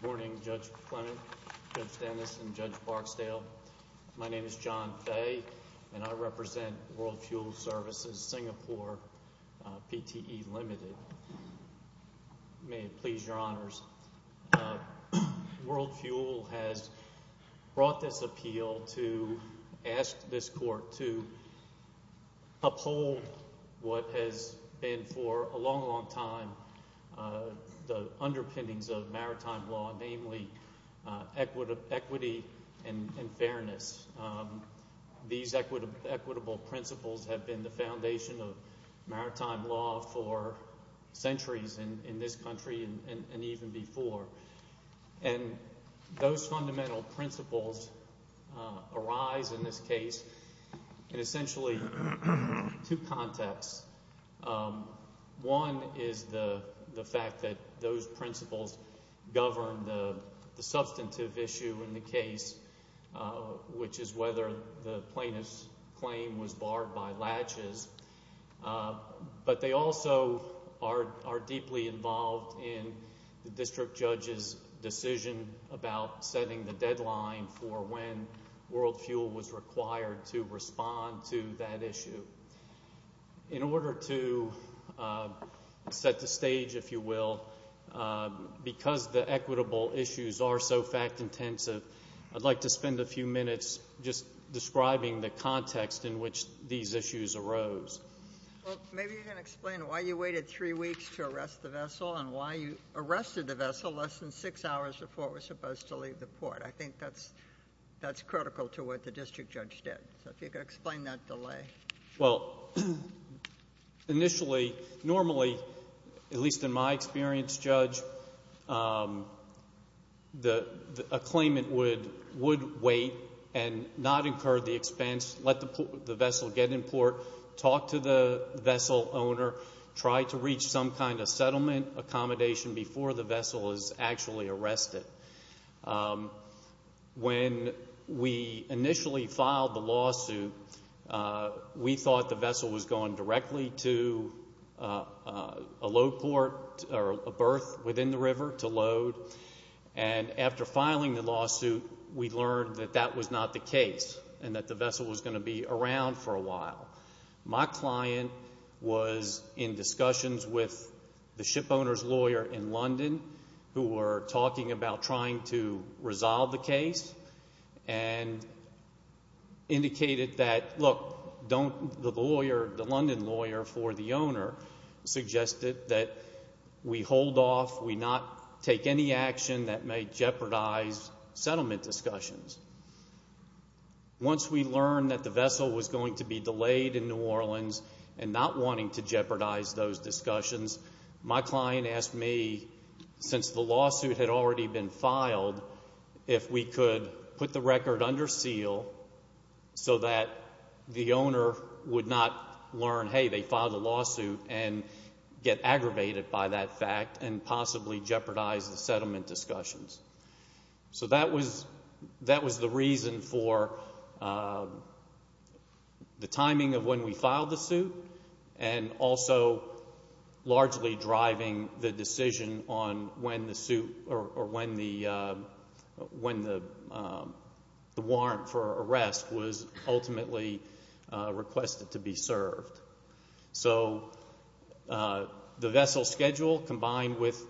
Good morning Judge Clement, Judge Dennis and Judge Barksdale. My name is John Fay and I represent World Fuel Svc Singapore PTE Ltd. May it please your honors, World Fuel has brought this appeal to ask this court to uphold what has been for a long, long time the underpinnings of maritime law, namely equity and fairness. These equitable principles have been the foundation of maritime law for centuries in this country and even before. And those fundamental principles arise in this case in essentially two contexts. One is the fact that those principles govern the substantive issue in the case, which is whether the plaintiff's claim was barred by latches. But they also are deeply involved in the district judge's decision about setting the deadline for when World Fuel was required to respond to that issue. In order to set the stage, if you will, because the equitable issues are so fact-intensive, I'd like to spend a few minutes just describing the context in which these issues arose. Well, maybe you can explain why you waited three weeks to arrest the vessel and why you arrested the vessel less than six hours before it was supposed to leave the port. I think that's critical to what the district judge did. So if you could explain that delay. Well, initially, normally, at least in my experience, Judge, a claimant would wait and not incur the expense, let the vessel get in port, talk to the vessel owner, try to reach some kind of settlement accommodation before the vessel is actually arrested. When we initially filed the lawsuit, we thought the vessel was going directly to a load port or a berth within the river to load. And after filing the lawsuit, we learned that that was not the case and that the vessel was going to be around for a while. My client was in discussions with the ship owner's lawyer in London who were talking about trying to resolve the case and indicated that, look, the lawyer, the London lawyer for the owner suggested that we hold off, we not take any action that may jeopardize settlement discussions. Once we learned that the vessel was going to be delayed in New Orleans and not wanting to jeopardize those discussions, my client asked me, since the lawsuit had already been filed, if we could put the record under seal so that the owner would not learn, hey, they filed a lawsuit and get aggravated by that fact and possibly jeopardize the settlement discussions. So that was the reason for the timing of when we filed the suit and also largely driving the decision on when the warrant for arrest was ultimately requested to be served. So the vessel schedule combined with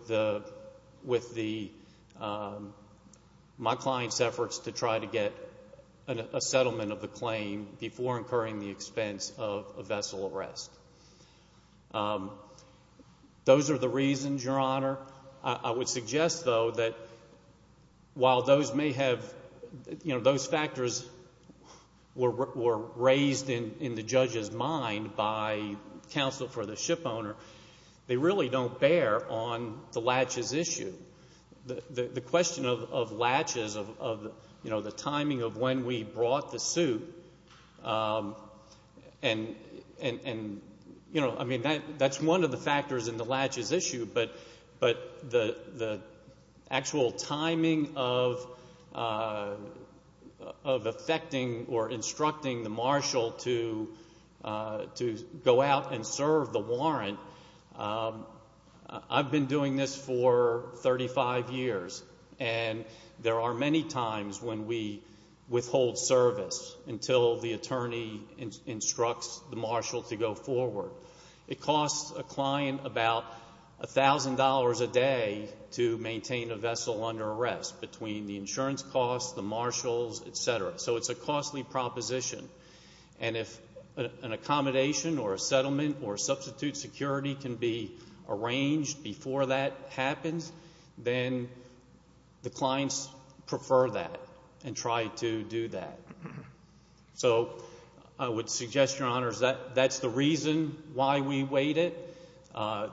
my client's efforts to try to get a settlement of the claim before incurring the expense of a vessel arrest. Those are the reasons, Your Honor. I would suggest, though, that while those may have, you know, those factors were raised in the judge's mind by counsel for the ship owner, they really don't bear on the latches issue. The question of latches, of, you know, the timing of when we brought the suit, and, you know, I mean, that's one of the factors in the latches issue, but the actual timing of affecting or instructing the marshal to go out and serve the warrant, I've been doing this for 35 years, and there are many times when we withhold service until the attorney instructs the marshal to go forward. It costs a client about $1,000 a day to maintain a vessel under arrest between the insurance costs, the marshals, et cetera. So it's a costly proposition. And if an accommodation or a settlement or substitute security can be arranged before that happens, then the clients prefer that and try to do that. So I would suggest, Your Honors, that that's the reason why we wait it.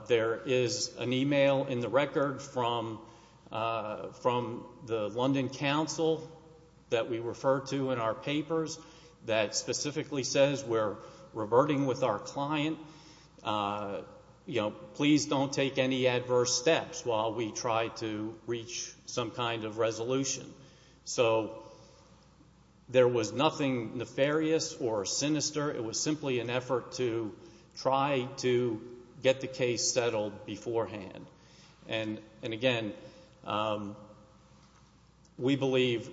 There is an email in the record from the London counsel that we refer to in our papers that specifically says we're reverting with our client. You know, please don't take any adverse steps while we try to reach some kind of resolution. So there was nothing nefarious or sinister. It was simply an effort to try to get the case settled beforehand. And again, we believe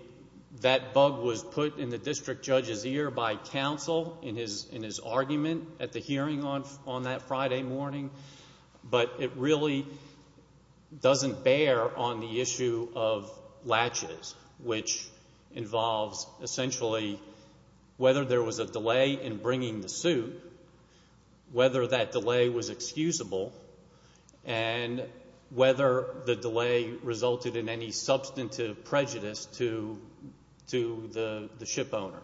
that bug was put in the district judge's ear by counsel in his argument at the hearing on that Friday morning, but it really doesn't bear on the issue of bringing the suit whether that delay was excusable and whether the delay resulted in any substantive prejudice to the ship owner.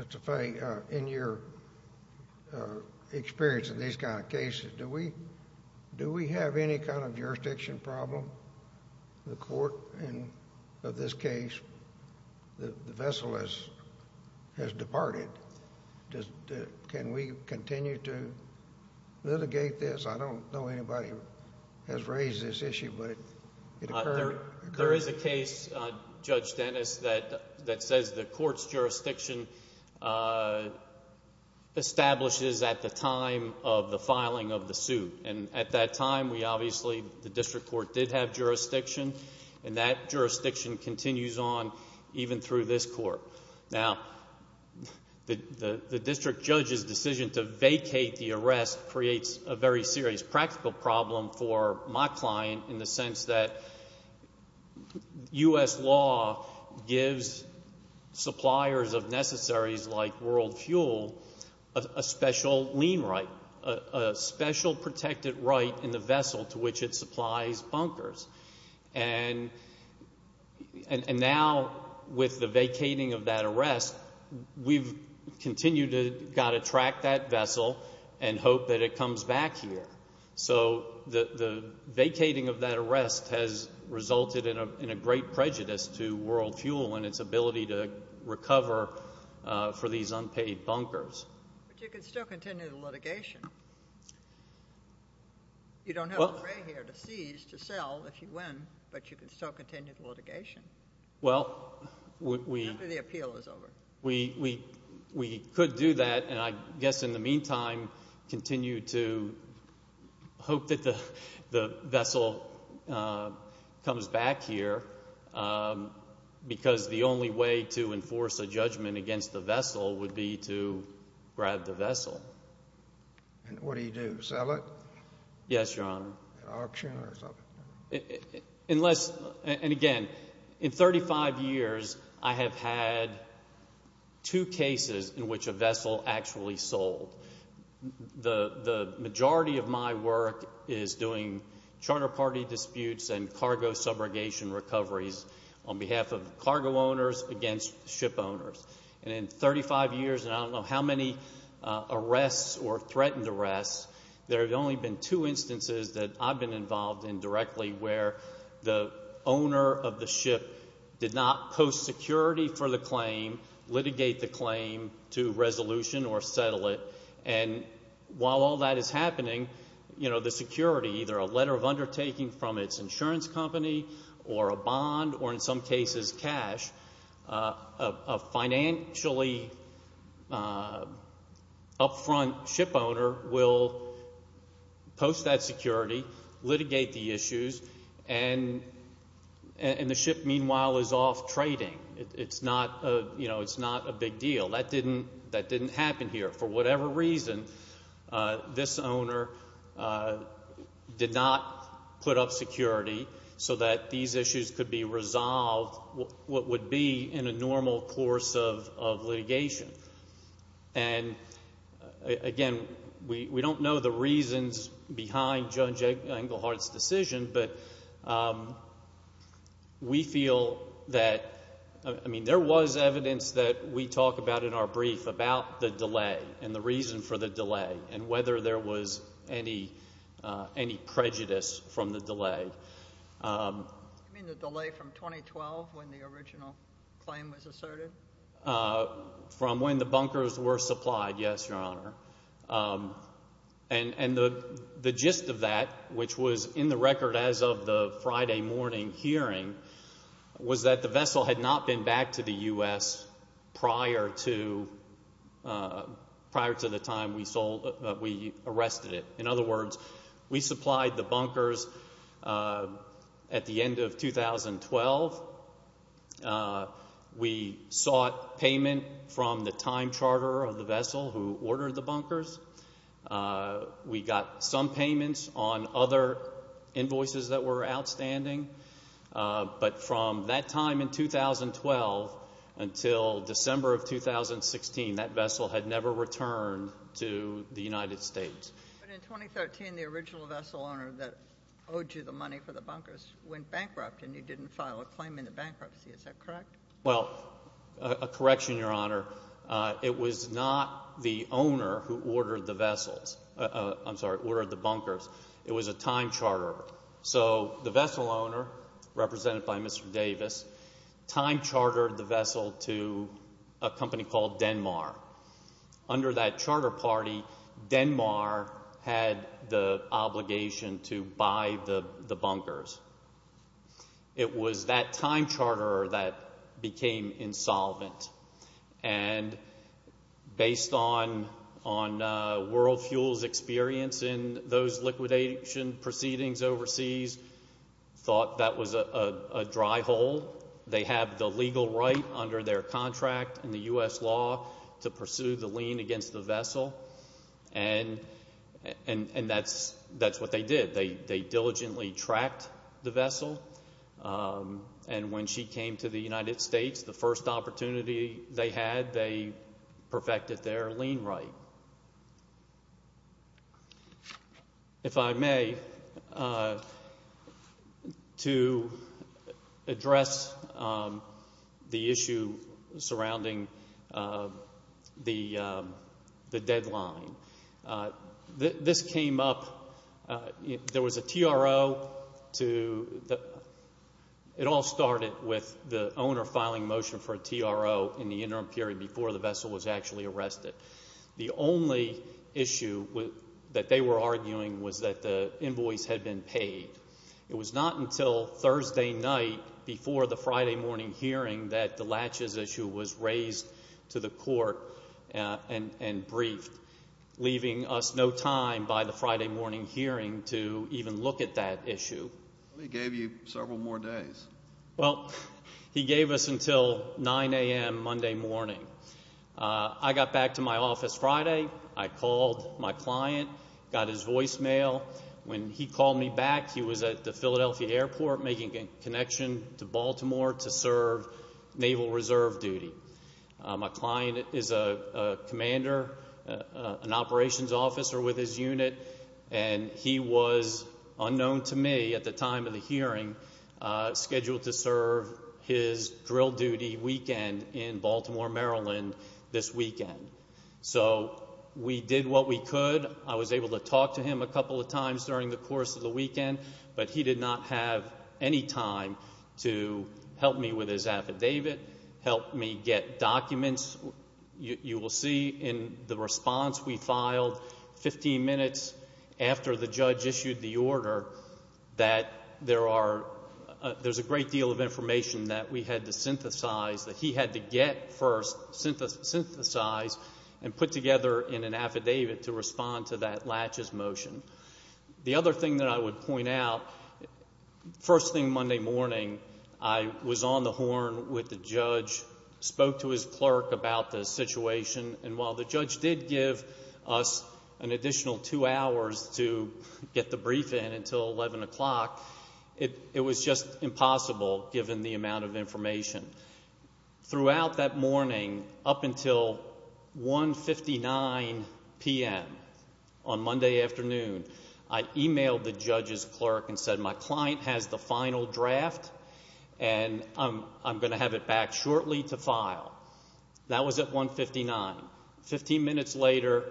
Mr. Faye, in your experience in these kind of cases, do we have any kind of jurisdiction problem in the court? And in this case, the vessel has departed. Can we continue to litigate this? I don't know anybody who has raised this issue, but it occurred. There is a case, Judge Dennis, that says the court's jurisdiction establishes at the time of the filing of the suit. And at that time, we obviously, the district court did have jurisdiction, and that jurisdiction continues on even through this court. Now, the district judge's decision to vacate the arrest creates a very serious practical problem for my client in the sense that U.S. law gives suppliers of necessaries like world fuel a special lien right, a special protected right in the vessel to which it supplies bunkers. And now, with the vacating of that arrest, we've continued to got to track that vessel and hope that it comes back here. So the vacating of that arrest has resulted in a great prejudice to world fuel and its ability to recover for these unpaid bunkers. But you can still continue the litigation. You don't have to pay here to seize, to sell if you win, but you can still continue the litigation after the appeal is over. Well, we could do that. And I guess in the meantime, continue to hope that the vessel comes back here because the only way to enforce a judgment against the vessel would be to grab the vessel. And what do you do, sell it? Yes, Your Honor. Auction or something? Unless, and again, in 35 years, I have had two cases in which a vessel actually sold. The majority of my work is doing charter party disputes and cargo subrogation recoveries on behalf of cargo owners against ship owners. And in 35 years, and I don't know how many arrests or threatened arrests, there have only been two instances that I've been involved in directly where the owner of the ship did not post security for the claim, litigate the claim to resolution or settle it. And while all that is happening, you know, the security, either a letter of undertaking from its insurance company or a bond or in some cases cash, a financially upfront ship owner will post that security, litigate the issues, and the ship meanwhile is off trading. It's not, you know, it's not a big deal. That didn't happen here. For whatever reason, this owner did not put up security so that these issues could be resolved, what would be in a normal course of litigation. And again, we don't know the reasons behind Judge Engelhardt's decision, but we feel that, I mean, there was evidence that we talk about in our brief about the delay and the reason for the delay and whether there was any prejudice from the delay. You mean the delay from 2012 when the original claim was asserted? From when the bunkers were supplied, yes, Your Honor. And the gist of that, which was in the record as of the Friday morning hearing, was that the vessel had not been back to the U.S. prior to the time we arrested it. In other words, we supplied the bunkers at the end of 2012. We sought payment from the time charter of the vessel who ordered the bunkers. We got some payments on other invoices that were outstanding. But from that time in 2012 until December of 2016, that vessel had never returned to the United States. But in 2013, the original vessel owner that owed you the money for the bunkers went bankrupt and you didn't file a claim in the bankruptcy. Is that correct? Well, a correction, Your Honor. It was not the owner who ordered the vessels, I'm sorry, ordered the bunkers. It was a time charter. So the vessel owner, represented by Mr. Davis, time chartered the vessel to a company called Denmark. Under that charter party, Denmark had the obligation to buy the bunkers. It was that time charter that became insolvent. And based on World Fuel's experience in those liquidation proceedings overseas, thought that was a dry hole. They have the legal right under their contract in the U.S. law to pursue the lien against the vessel. And that's what they did. They diligently tracked the vessel. And when she came to the United States, the first opportunity they had, they perfected their lien right. If I may, to address the issue surrounding the deadline, this came up, there was a TRO to, it all started with the owner filing a motion for a TRO in the interim period before the vessel was actually arrested. The only issue that they were arguing was that the invoice had been paid. It was not until Thursday night before the Friday morning hearing that the latches issue was raised to the court and briefed, leaving us no time by the Friday morning hearing to even look at that issue. Well, he gave you several more days. Well, he gave us until 9 a.m. Monday morning. I got back to my office Friday. I called my client, got his voicemail. When he called me back, he was at the Philadelphia airport making a connection to Baltimore to serve Naval Reserve duty. My client is a commander, an operations officer with his unit, and he was unknown to me at the time of the hearing, scheduled to serve his drill duty weekend in Baltimore, Maryland this weekend. So we did what we could. I was able to talk to him a couple of times during the course of the weekend, but he did not have any time to help me with his affidavit, help me get documents. You will see in the response we filed 15 minutes after the judge issued the order that there are, there's a great deal of information that we had to synthesize, that he had to get first, synthesize, and put together in an affidavit to respond to that latches motion. The other thing that I would point out, first thing Monday morning, I was on the horn with the judge, spoke to his clerk about the situation, and while the judge did give us an additional two hours to get the brief in until 11 o'clock, it was just impossible given the amount of information. Throughout that morning, up until 159 p.m. on Monday afternoon, I emailed the judge's clerk and said, my client has the final draft and I'm going to have it back shortly to file. That was at 159. Fifteen minutes later,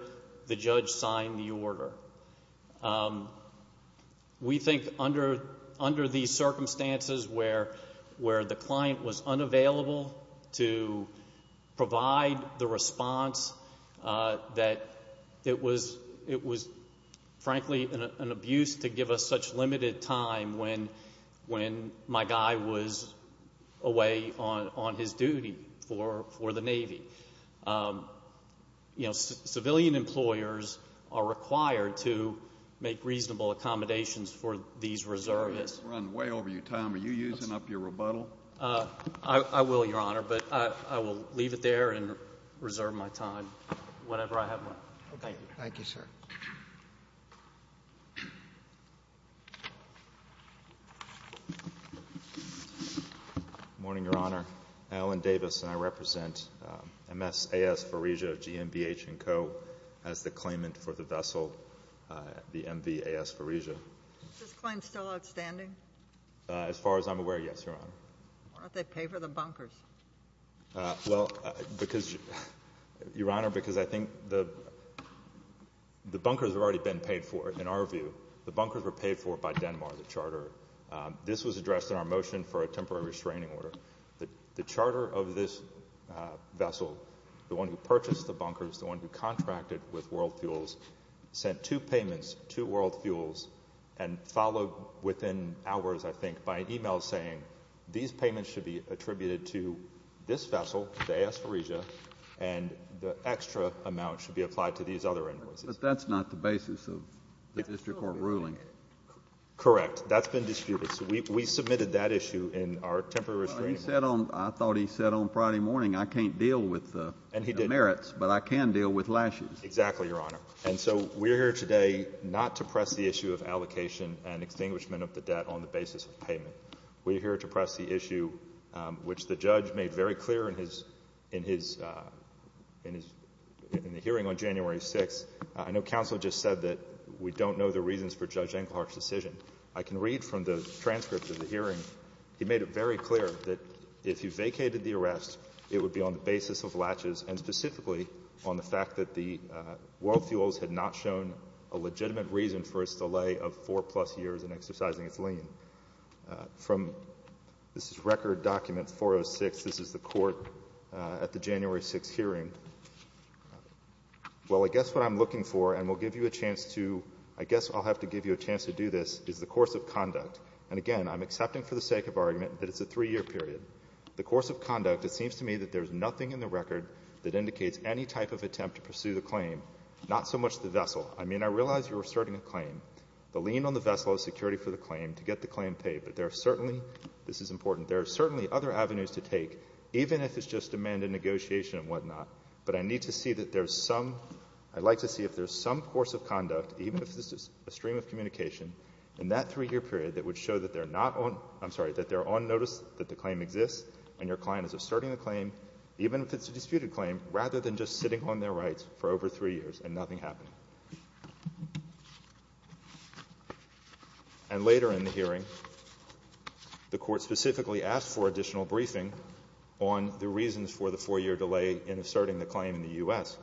the judge signed the order. We think under these circumstances where the client was unavailable to provide the response, that it was frankly an abuse to give us such limited time when my guy was away on his duty for the Navy. You know, civilian employers are required to make reasonable accommodations for these reservists. We're running way over your time. Are you using up your rebuttal? I will, Your Honor, but I will leave it there and reserve my time, whatever I have left. Thank you. Thank you, sir. Good morning, Your Honor. Alan Davis, and I represent MSAS Pharesia, GMBH & Co. as the claimant for the vessel, the MVAS Pharesia. Is this claim still outstanding? As far as I'm aware, yes, Your Honor. Why don't they pay for the bunkers? Well, Your Honor, because I think the bunkers have already been paid for, in our view. The bunkers were paid for by Denmark, the charter. This was addressed in our motion for a temporary restraining order. The charter of this vessel, the one who purchased the bunkers, the one who contracted with World Fuels, sent two payments to World Fuels and followed within hours, I think, by an email saying, these payments should be attributed to this vessel, the AS Pharesia, and the extra amount should be applied to these other invoices. But that's not the basis of the district court ruling. Correct. That's been disputed. So we submitted that issue in our temporary restraining order. I thought he said on Friday morning, I can't deal with the merits, but I can deal with lashes. Exactly, Your Honor. And so we're here today not to press the issue of allocation and extinguishment of the debt on the basis of payment. We're here to press the issue, which the judge made very clear in his, in his, in his, in the hearing on January 6th. I know counsel just said that we don't know the reasons for Judge Engelhardt's decision. I can read from the transcript of the hearing. He made it very clear that if you vacated the arrest, it would be on the basis of latches and specifically on the fact that the World Fuels had not shown a legitimate reason for its delay of four-plus years in exercising its lien. From this record document 406, this is the court at the January 6th hearing. Well, I guess what I'm looking for, and we'll give you a chance to, I guess I'll have to give you a chance to do this, is the course of conduct. And again, I'm accepting for the sake of argument that it's a three-year period. The course of conduct, it seems to me that there's nothing in the record that indicates any type of attempt to pursue the claim, not so much the vessel. I mean, I realize you're asserting a claim. The lien on the vessel is security for the claim to get the claim paid. But there are certainly, this is important, there are certainly other avenues to take, even if it's just demand and negotiation and whatnot. But I need to see that there's some, I'd like to see if there's some course of conduct, even if this is a stream of communication, in that three-year period that would show that they're not on, I'm sorry, that they're on notice that the claim exists and your client is asserting the claim, even if it's a disputed claim, rather than just sitting on their rights for over three years and nothing happening. And later in the hearing, the Court specifically asked for additional briefing on the reasons for the four-year delay in asserting the claim in the U.S.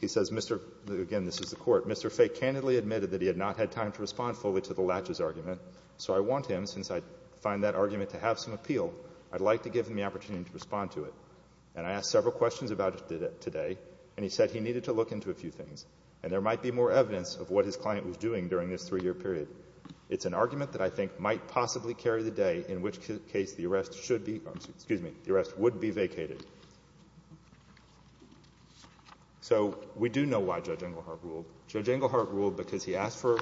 He says, Mr. Fay, again, this is the Court, Mr. Fay candidly admitted that he had not had time to respond fully to the latches argument, so I want him, since I find that argument to have some appeal, I'd like to give him the opportunity to respond to it. And I asked several questions about it today, and he said he needed to look into a few things, and there might be more evidence of what his client was doing during this three-year period. It's an argument that I think might possibly carry the day in which case the arrest should be or, excuse me, the arrest would be vacated. So we do know why Judge Englehart ruled. Judge Englehart ruled because he asked for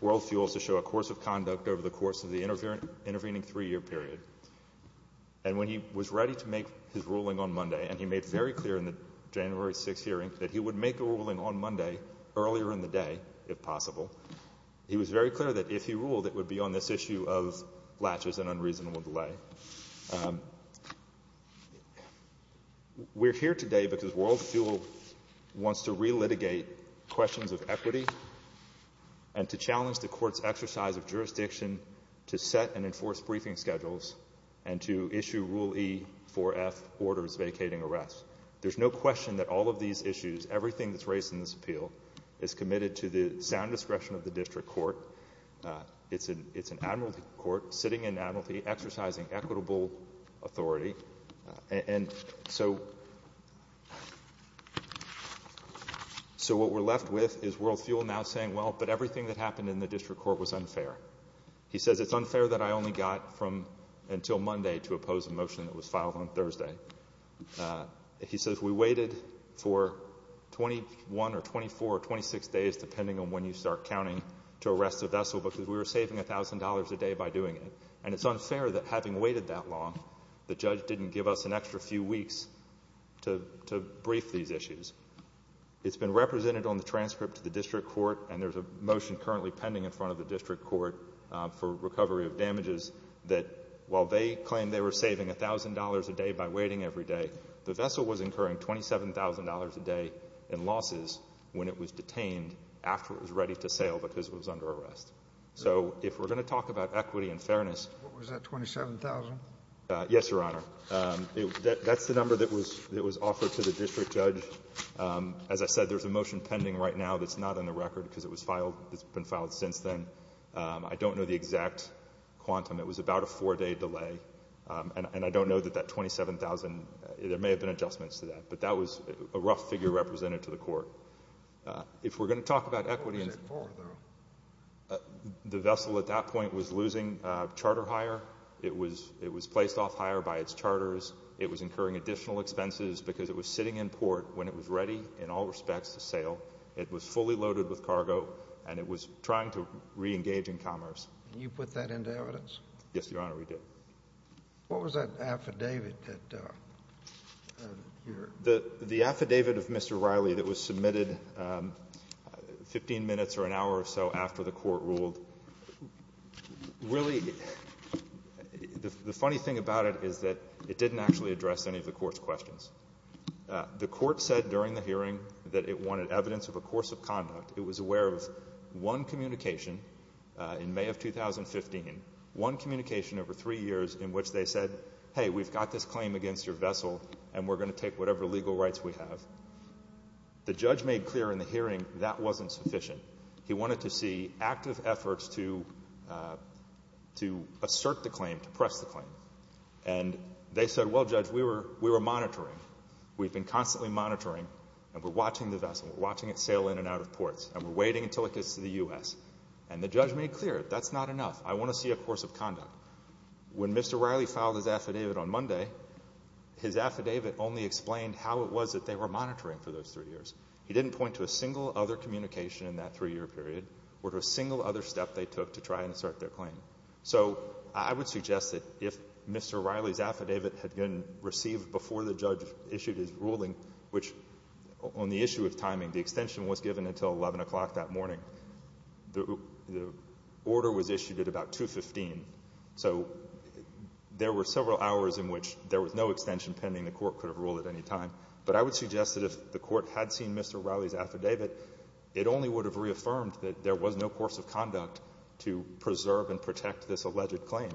world fuels to show a course of conduct over the course of the intervening three-year period. And when he was ready to make his ruling on Monday, and he made very clear in the January 6th hearing that he would make a ruling on Monday earlier in the day, if possible, he was very clear that if he ruled, it would be on this issue of latches and unreasonable delay. We're here today because world fuel wants to relitigate questions of equity and to challenge the Court's exercise of jurisdiction to set and enforce briefing schedules and to issue Rule E-4F orders vacating arrests. There's no question that all of these issues, everything that's raised in this appeal, is committed to the sound discretion of the district court. It's an admiralty court sitting in admiralty exercising equitable authority. And so what we're left with is world fuel now saying, well, but everything that happened in the district court was unfair. He says it's unfair that I only got from until Monday to oppose a motion that was filed on Thursday. He says we waited for 21 or 24 or 26 days, depending on when you start counting, to arrest a vessel because we were saving $1,000 a day by doing it. And it's unfair that having waited that long, the judge didn't give us an extra few weeks to brief these issues. It's been represented on the transcript to the district court, and there's a record for recovery of damages that while they claimed they were saving $1,000 a day by waiting every day, the vessel was incurring $27,000 a day in losses when it was detained after it was ready to sail because it was under arrest. So if we're going to talk about equity and fairness — What was that, $27,000? Yes, Your Honor. That's the number that was offered to the district judge. As I said, there's a motion pending right now that's not on the record because it's been filed since then. I don't know the exact quantum. It was about a four-day delay. And I don't know that that $27,000 — there may have been adjustments to that. But that was a rough figure represented to the court. If we're going to talk about equity — What was it for, though? The vessel at that point was losing charter hire. It was placed off hire by its charters. It was incurring additional expenses because it was sitting in port when it was ready in all respects to sail. It was fully loaded with cargo, and it was trying to reengage in commerce. And you put that into evidence? Yes, Your Honor, we did. What was that affidavit that you're — The affidavit of Mr. Riley that was submitted 15 minutes or an hour or so after the court ruled, really, the funny thing about it is that it didn't actually address any of the court's questions. The court said during the hearing that it wanted evidence of a course of conduct. It was aware of one communication in May of 2015, one communication over three years in which they said, hey, we've got this claim against your vessel, and we're going to take whatever legal rights we have. The judge made clear in the hearing that wasn't sufficient. He wanted to see active efforts to assert the claim, to press the claim. And they said, well, Judge, we were monitoring. We've been constantly monitoring, and we're watching the vessel. We're watching it sail in and out of ports. And we're waiting until it gets to the U.S. And the judge made clear, that's not enough. I want to see a course of conduct. When Mr. Riley filed his affidavit on Monday, his affidavit only explained how it was that they were monitoring for those three years. He didn't point to a single other communication in that three-year period or to a single other step they took to try and assert their claim. So I would suggest that if Mr. Riley's affidavit had been received before the judge issued his ruling, which on the issue of timing, the extension was given until 11 o'clock that morning, the order was issued at about 2.15. So there were several hours in which there was no extension pending. The Court could have ruled at any time. But I would suggest that if the Court had seen Mr. Riley's affidavit, it only would have reaffirmed that there was no course of conduct to preserve and protect this alleged claim.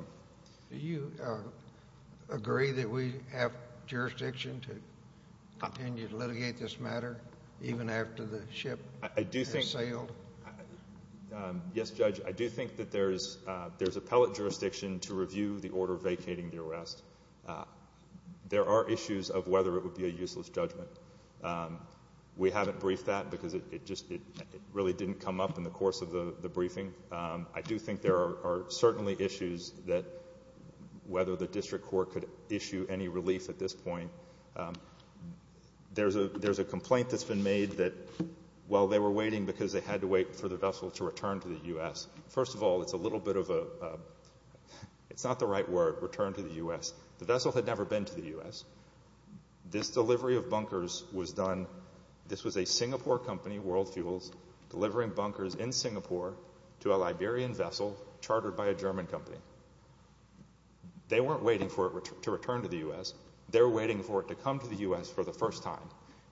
Do you agree that we have jurisdiction to continue to litigate this matter even after the ship has sailed? Yes, Judge. I do think that there's appellate jurisdiction to review the order vacating the arrest. There are issues of whether it would be a useless judgment. We haven't briefed that because it just really didn't come up in the course of the briefing. I do think there are certainly issues that whether the District Court could issue any relief at this point. There's a complaint that's been made that while they were waiting because they had to wait for the vessel to return to the U.S. First of all, it's a little bit of a, it's not the right word, return to the U.S. The vessel had never been to the U.S. This delivery of bunkers was done, this was a Singapore company, World Fuels, delivering bunkers in Singapore to a Liberian vessel chartered by a German company. They weren't waiting for it to return to the U.S. They were waiting for it to come to the U.S. for the first time.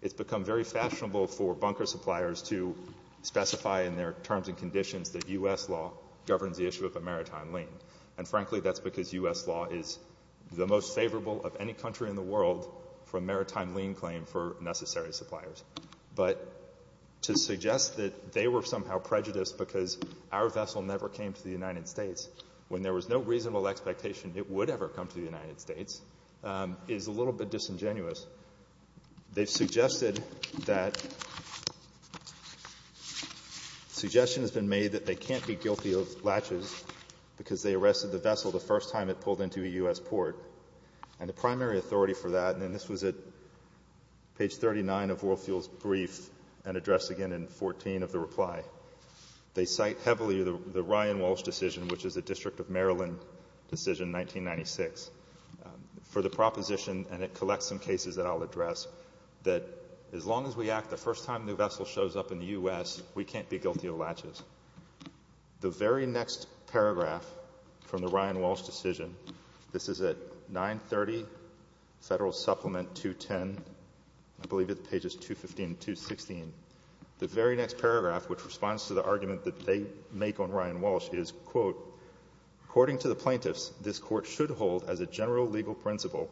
It's become very fashionable for bunker suppliers to specify in their terms and conditions that U.S. law governs the issue of a maritime lane. And frankly, that's because U.S. law is the most favorable of any country in the world for a maritime lane claim for necessary suppliers. But to suggest that they were somehow prejudiced because our vessel never came to the United States when there was no reasonable expectation it would ever come to the United States is a little bit disingenuous. They've suggested that suggestion has been made that they can't be guilty of latches because they arrested the vessel the first time it pulled into a U.S. port. And the primary authority for that, and this was at page 39 of World Fuels' brief and addressed again in 14 of the reply, they cite heavily the Ryan Walsh decision, which is a District of Maryland decision, 1996, for the proposition, and it collects some cases that I'll address, that as long as we act the first time a new vessel shows up in the U.S., we can't be guilty of latches. The very next paragraph from the Ryan Walsh decision, this is at 930 Federal Supplement 210, I believe it's pages 215 and 216. The very next paragraph, which responds to the argument that they make on Ryan Walsh is, quote, according to the plaintiffs, this Court should hold as a general legal principle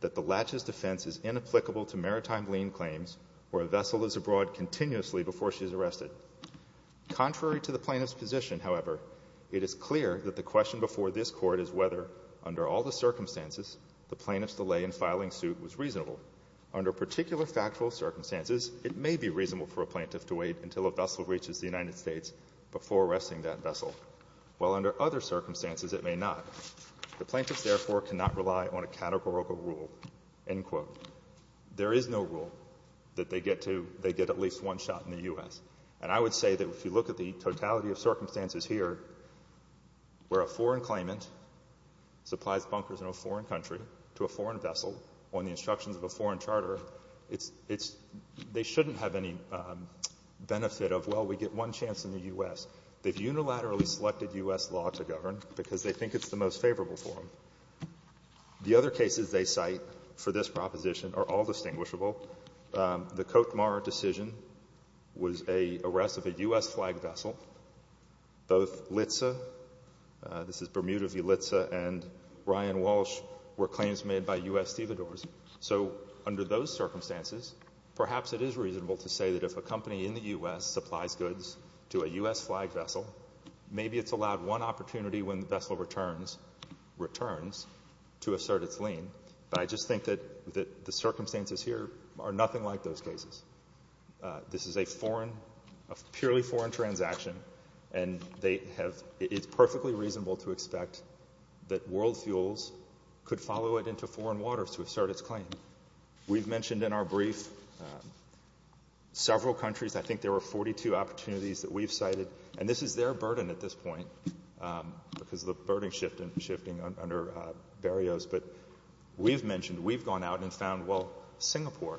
that the latches defense is inapplicable to maritime lane claims where a vessel is abroad continuously before she's arrested. Contrary to the plaintiff's position, however, it is clear that the question before this Court is whether, under all the circumstances, the plaintiff's delay in filing suit was reasonable. Under particular factual circumstances, it may be reasonable for a plaintiff to wait until a vessel reaches the United States before arresting that vessel, while under other circumstances it may not. The plaintiffs, therefore, cannot rely on a categorical rule. End quote. There is no rule that they get to they get at least one shot in the U.S. And I would say that if you look at the totality of circumstances here where a foreign claimant supplies bunkers in a foreign country to a foreign vessel on the instructions of a foreign charter, it's they shouldn't have any benefit of, well, we get one chance in the U.S. They've unilaterally selected U.S. law to govern because they think it's the most favorable for them. The other cases they cite for this proposition are all distinguishable. The Cote Marr decision was a arrest of a U.S. flag vessel. Both Litza, this is Bermuda v. Litza, and Ryan Walsh were claims made by U.S. stevedores. So under those circumstances, perhaps it is reasonable to say that if a company in the U.S. supplies goods to a U.S. flag vessel, maybe it's allowed one opportunity when the vessel returns to assert its lien. But I just think that the circumstances here are nothing like those cases. This is a foreign, a purely foreign transaction, and they have, it's perfectly reasonable to expect that world fuels could follow it into foreign waters to assert its claim. We've mentioned in our brief several countries, I think there were 42 opportunities that we've cited, and this is their burden at this point because of the burden shifting under Berio's, but we've mentioned, we've gone out and found, well, Singapore.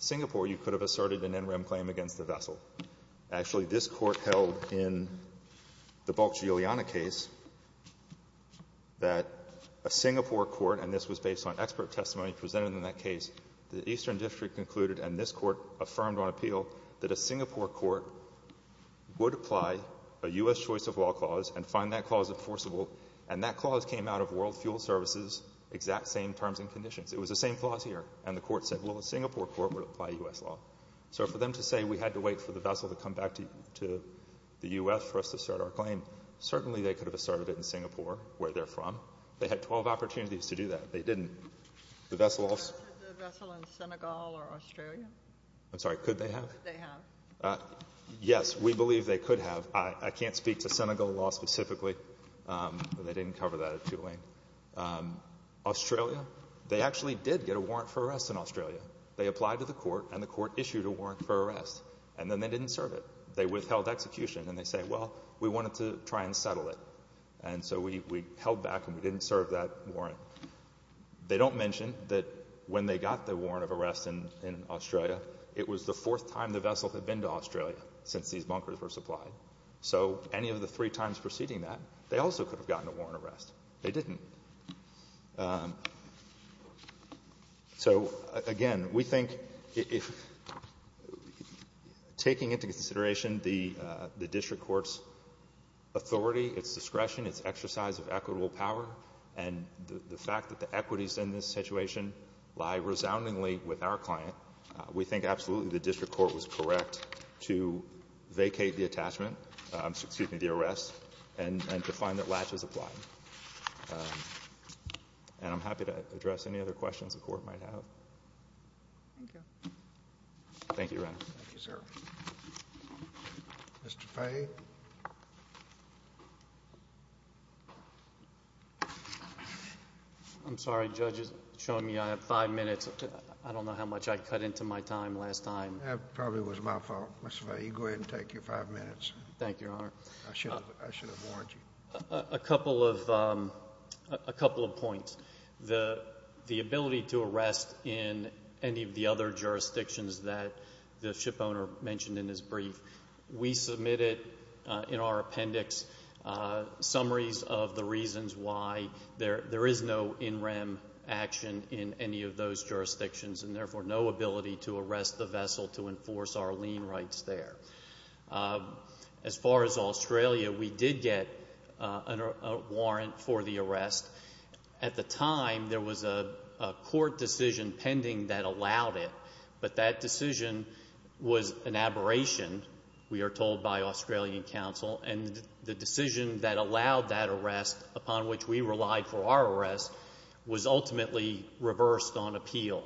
Singapore, you could have asserted an interim claim against the vessel. Actually, this Court held in the Boccioliana case that a Singapore court, and this was based on expert testimony presented in that case, the Eastern District concluded and this Court affirmed on appeal that a Singapore court would apply a U.S. choice of law clause and find that clause enforceable. And that clause came out of world fuel services, exact same terms and conditions. It was the same clause here. And the Court said, well, a Singapore court would apply U.S. law. So for them to say we had to wait for the vessel to come back to the U.S. for us to assert our claim, certainly they could have asserted it in Singapore, where they're from. They had 12 opportunities to do that. They didn't. The vessel also. The vessel in Senegal or Australia? I'm sorry. Could they have? Could they have? Yes. We believe they could have. I can't speak to Senegal law specifically, but they didn't cover that at Tulane. Australia, they actually did get a warrant for arrest in Australia. They applied to the Court, and the Court issued a warrant for arrest. And then they didn't serve it. They withheld execution. And they say, well, we wanted to try and settle it. And so we held back and we didn't serve that warrant. They don't mention that when they got the warrant of arrest in Australia, it was the fourth time the vessel had been to Australia since these bunkers were supplied. So any of the three times preceding that, they also could have gotten a warrant of arrest. They didn't. So, again, we think if taking into consideration the district court's authority, its discretion, its exercise of equitable power, and the fact that the equities in this situation lie resoundingly with our client, we think absolutely the district court was correct to vacate the attachment, excuse me, the arrest, and to find that latch was applied. And I'm happy to address any other questions the Court might have. Thank you. Thank you, Your Honor. Thank you, sir. Mr. Fay. I'm sorry, Judge. It's showing me I have five minutes. I don't know how much I cut into my time last time. That probably was my fault. Mr. Fay, you go ahead and take your five minutes. Thank you, Your Honor. I should have warned you. A couple of points. The ability to arrest in any of the other jurisdictions that the shipowner mentioned in his brief, we submitted in our appendix summaries of the reasons why there is no in rem action in any of those jurisdictions and, therefore, no ability to arrest the vessel to enforce our lien rights there. As far as Australia, we did get a warrant for the arrest. At the time, there was a court decision pending that allowed it. But that decision was an aberration, we are told by Australian counsel. And the decision that allowed that arrest, upon which we relied for our arrest, was ultimately reversed on appeal.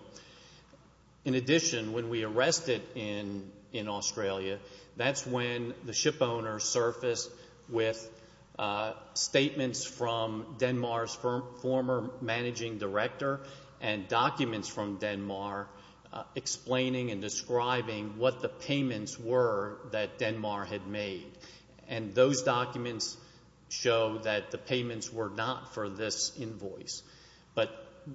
In addition, when we arrested in Australia, that's when the shipowner surfaced with statements from Denmark's former managing director and documents from Denmark explaining and describing what the payments were that Denmark had made. And those documents show that the payments were not for this invoice. But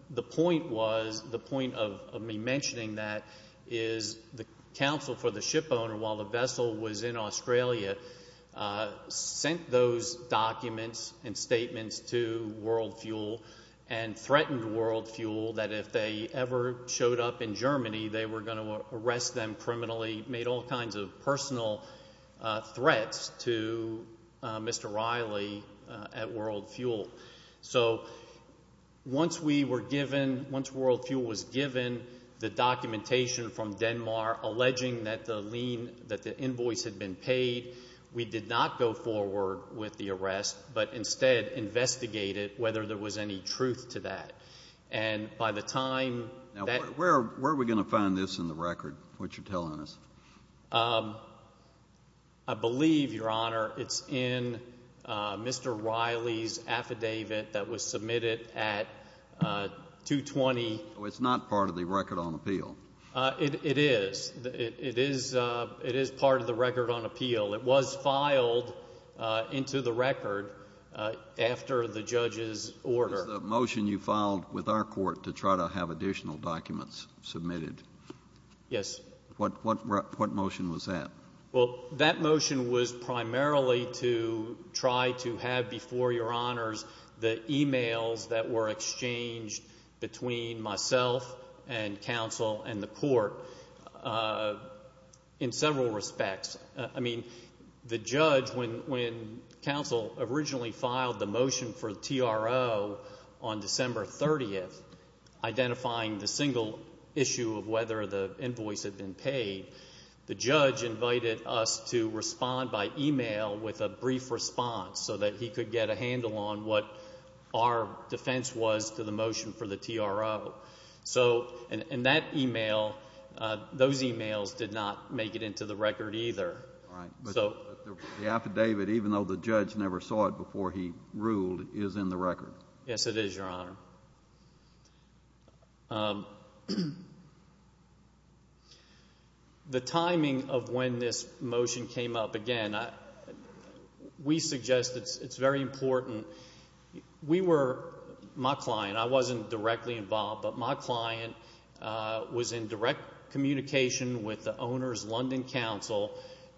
the point was, the point of me mentioning that is the counsel for the shipowner, while the vessel was in Australia, sent those documents and statements to WorldFuel and threatened WorldFuel that if they ever showed up in Germany, they were going to arrest them criminally, made all kinds of personal threats to Mr. Riley at WorldFuel. So once we were given, once WorldFuel was given the documentation from Denmark alleging that the invoice had been paid, we did not go forward with the arrest, but instead investigated whether there was any truth to that. And by the time that... Now, where are we going to find this in the record, what you're telling us? I believe, Your Honor, it's in Mr. Riley's affidavit that was submitted at 220... So it's not part of the record on appeal? It is. It is part of the record on appeal. It was filed into the record after the judge's order. It was the motion you filed with our court to try to have additional documents submitted. Yes. What motion was that? Well, that motion was primarily to try to have, before Your Honors, the e-mails that were exchanged between myself and counsel and the court in several respects. I mean, the judge, when counsel originally filed the motion for TRO on December 30th, identifying the single issue of whether the invoice had been paid, the judge invited us to respond by e-mail with a brief response so that he could get a handle on what our defense was to the motion for the TRO. So in that e-mail, those e-mails did not make it into the record either. All right. But the affidavit, even though the judge never saw it before he ruled, is in the record? Yes, it is, Your Honor. The timing of when this motion came up, again, we suggest it's very important. We were, my client, I wasn't directly involved, but my client was in direct communication with the owner's London counsel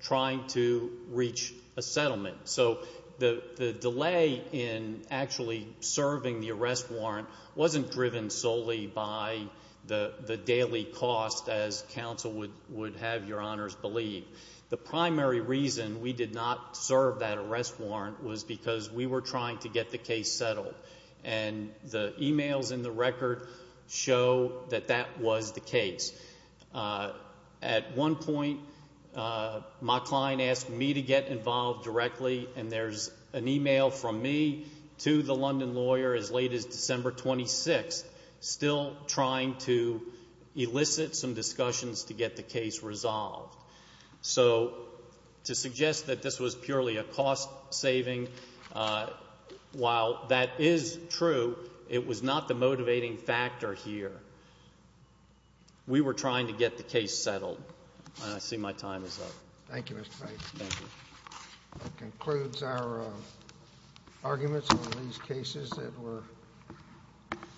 trying to reach a settlement. So the delay in actually serving the arrest warrant wasn't driven solely by the daily cost, as counsel would have Your Honors believe. The primary reason we did not serve that arrest warrant was because we were trying to get the case settled, and the e-mails in the record show that that was the case. At one point, my client asked me to get involved directly, and there's an e-mail from me to the London lawyer as late as December 26th, still trying to elicit some discussions to get the case resolved. So to suggest that this was purely a cost saving, while that is true, it was not the motivating factor here. We were trying to get the case settled, and I see my time is up. Thank you, Mr. Bates. Thank you. That concludes our arguments on these cases that were discussed.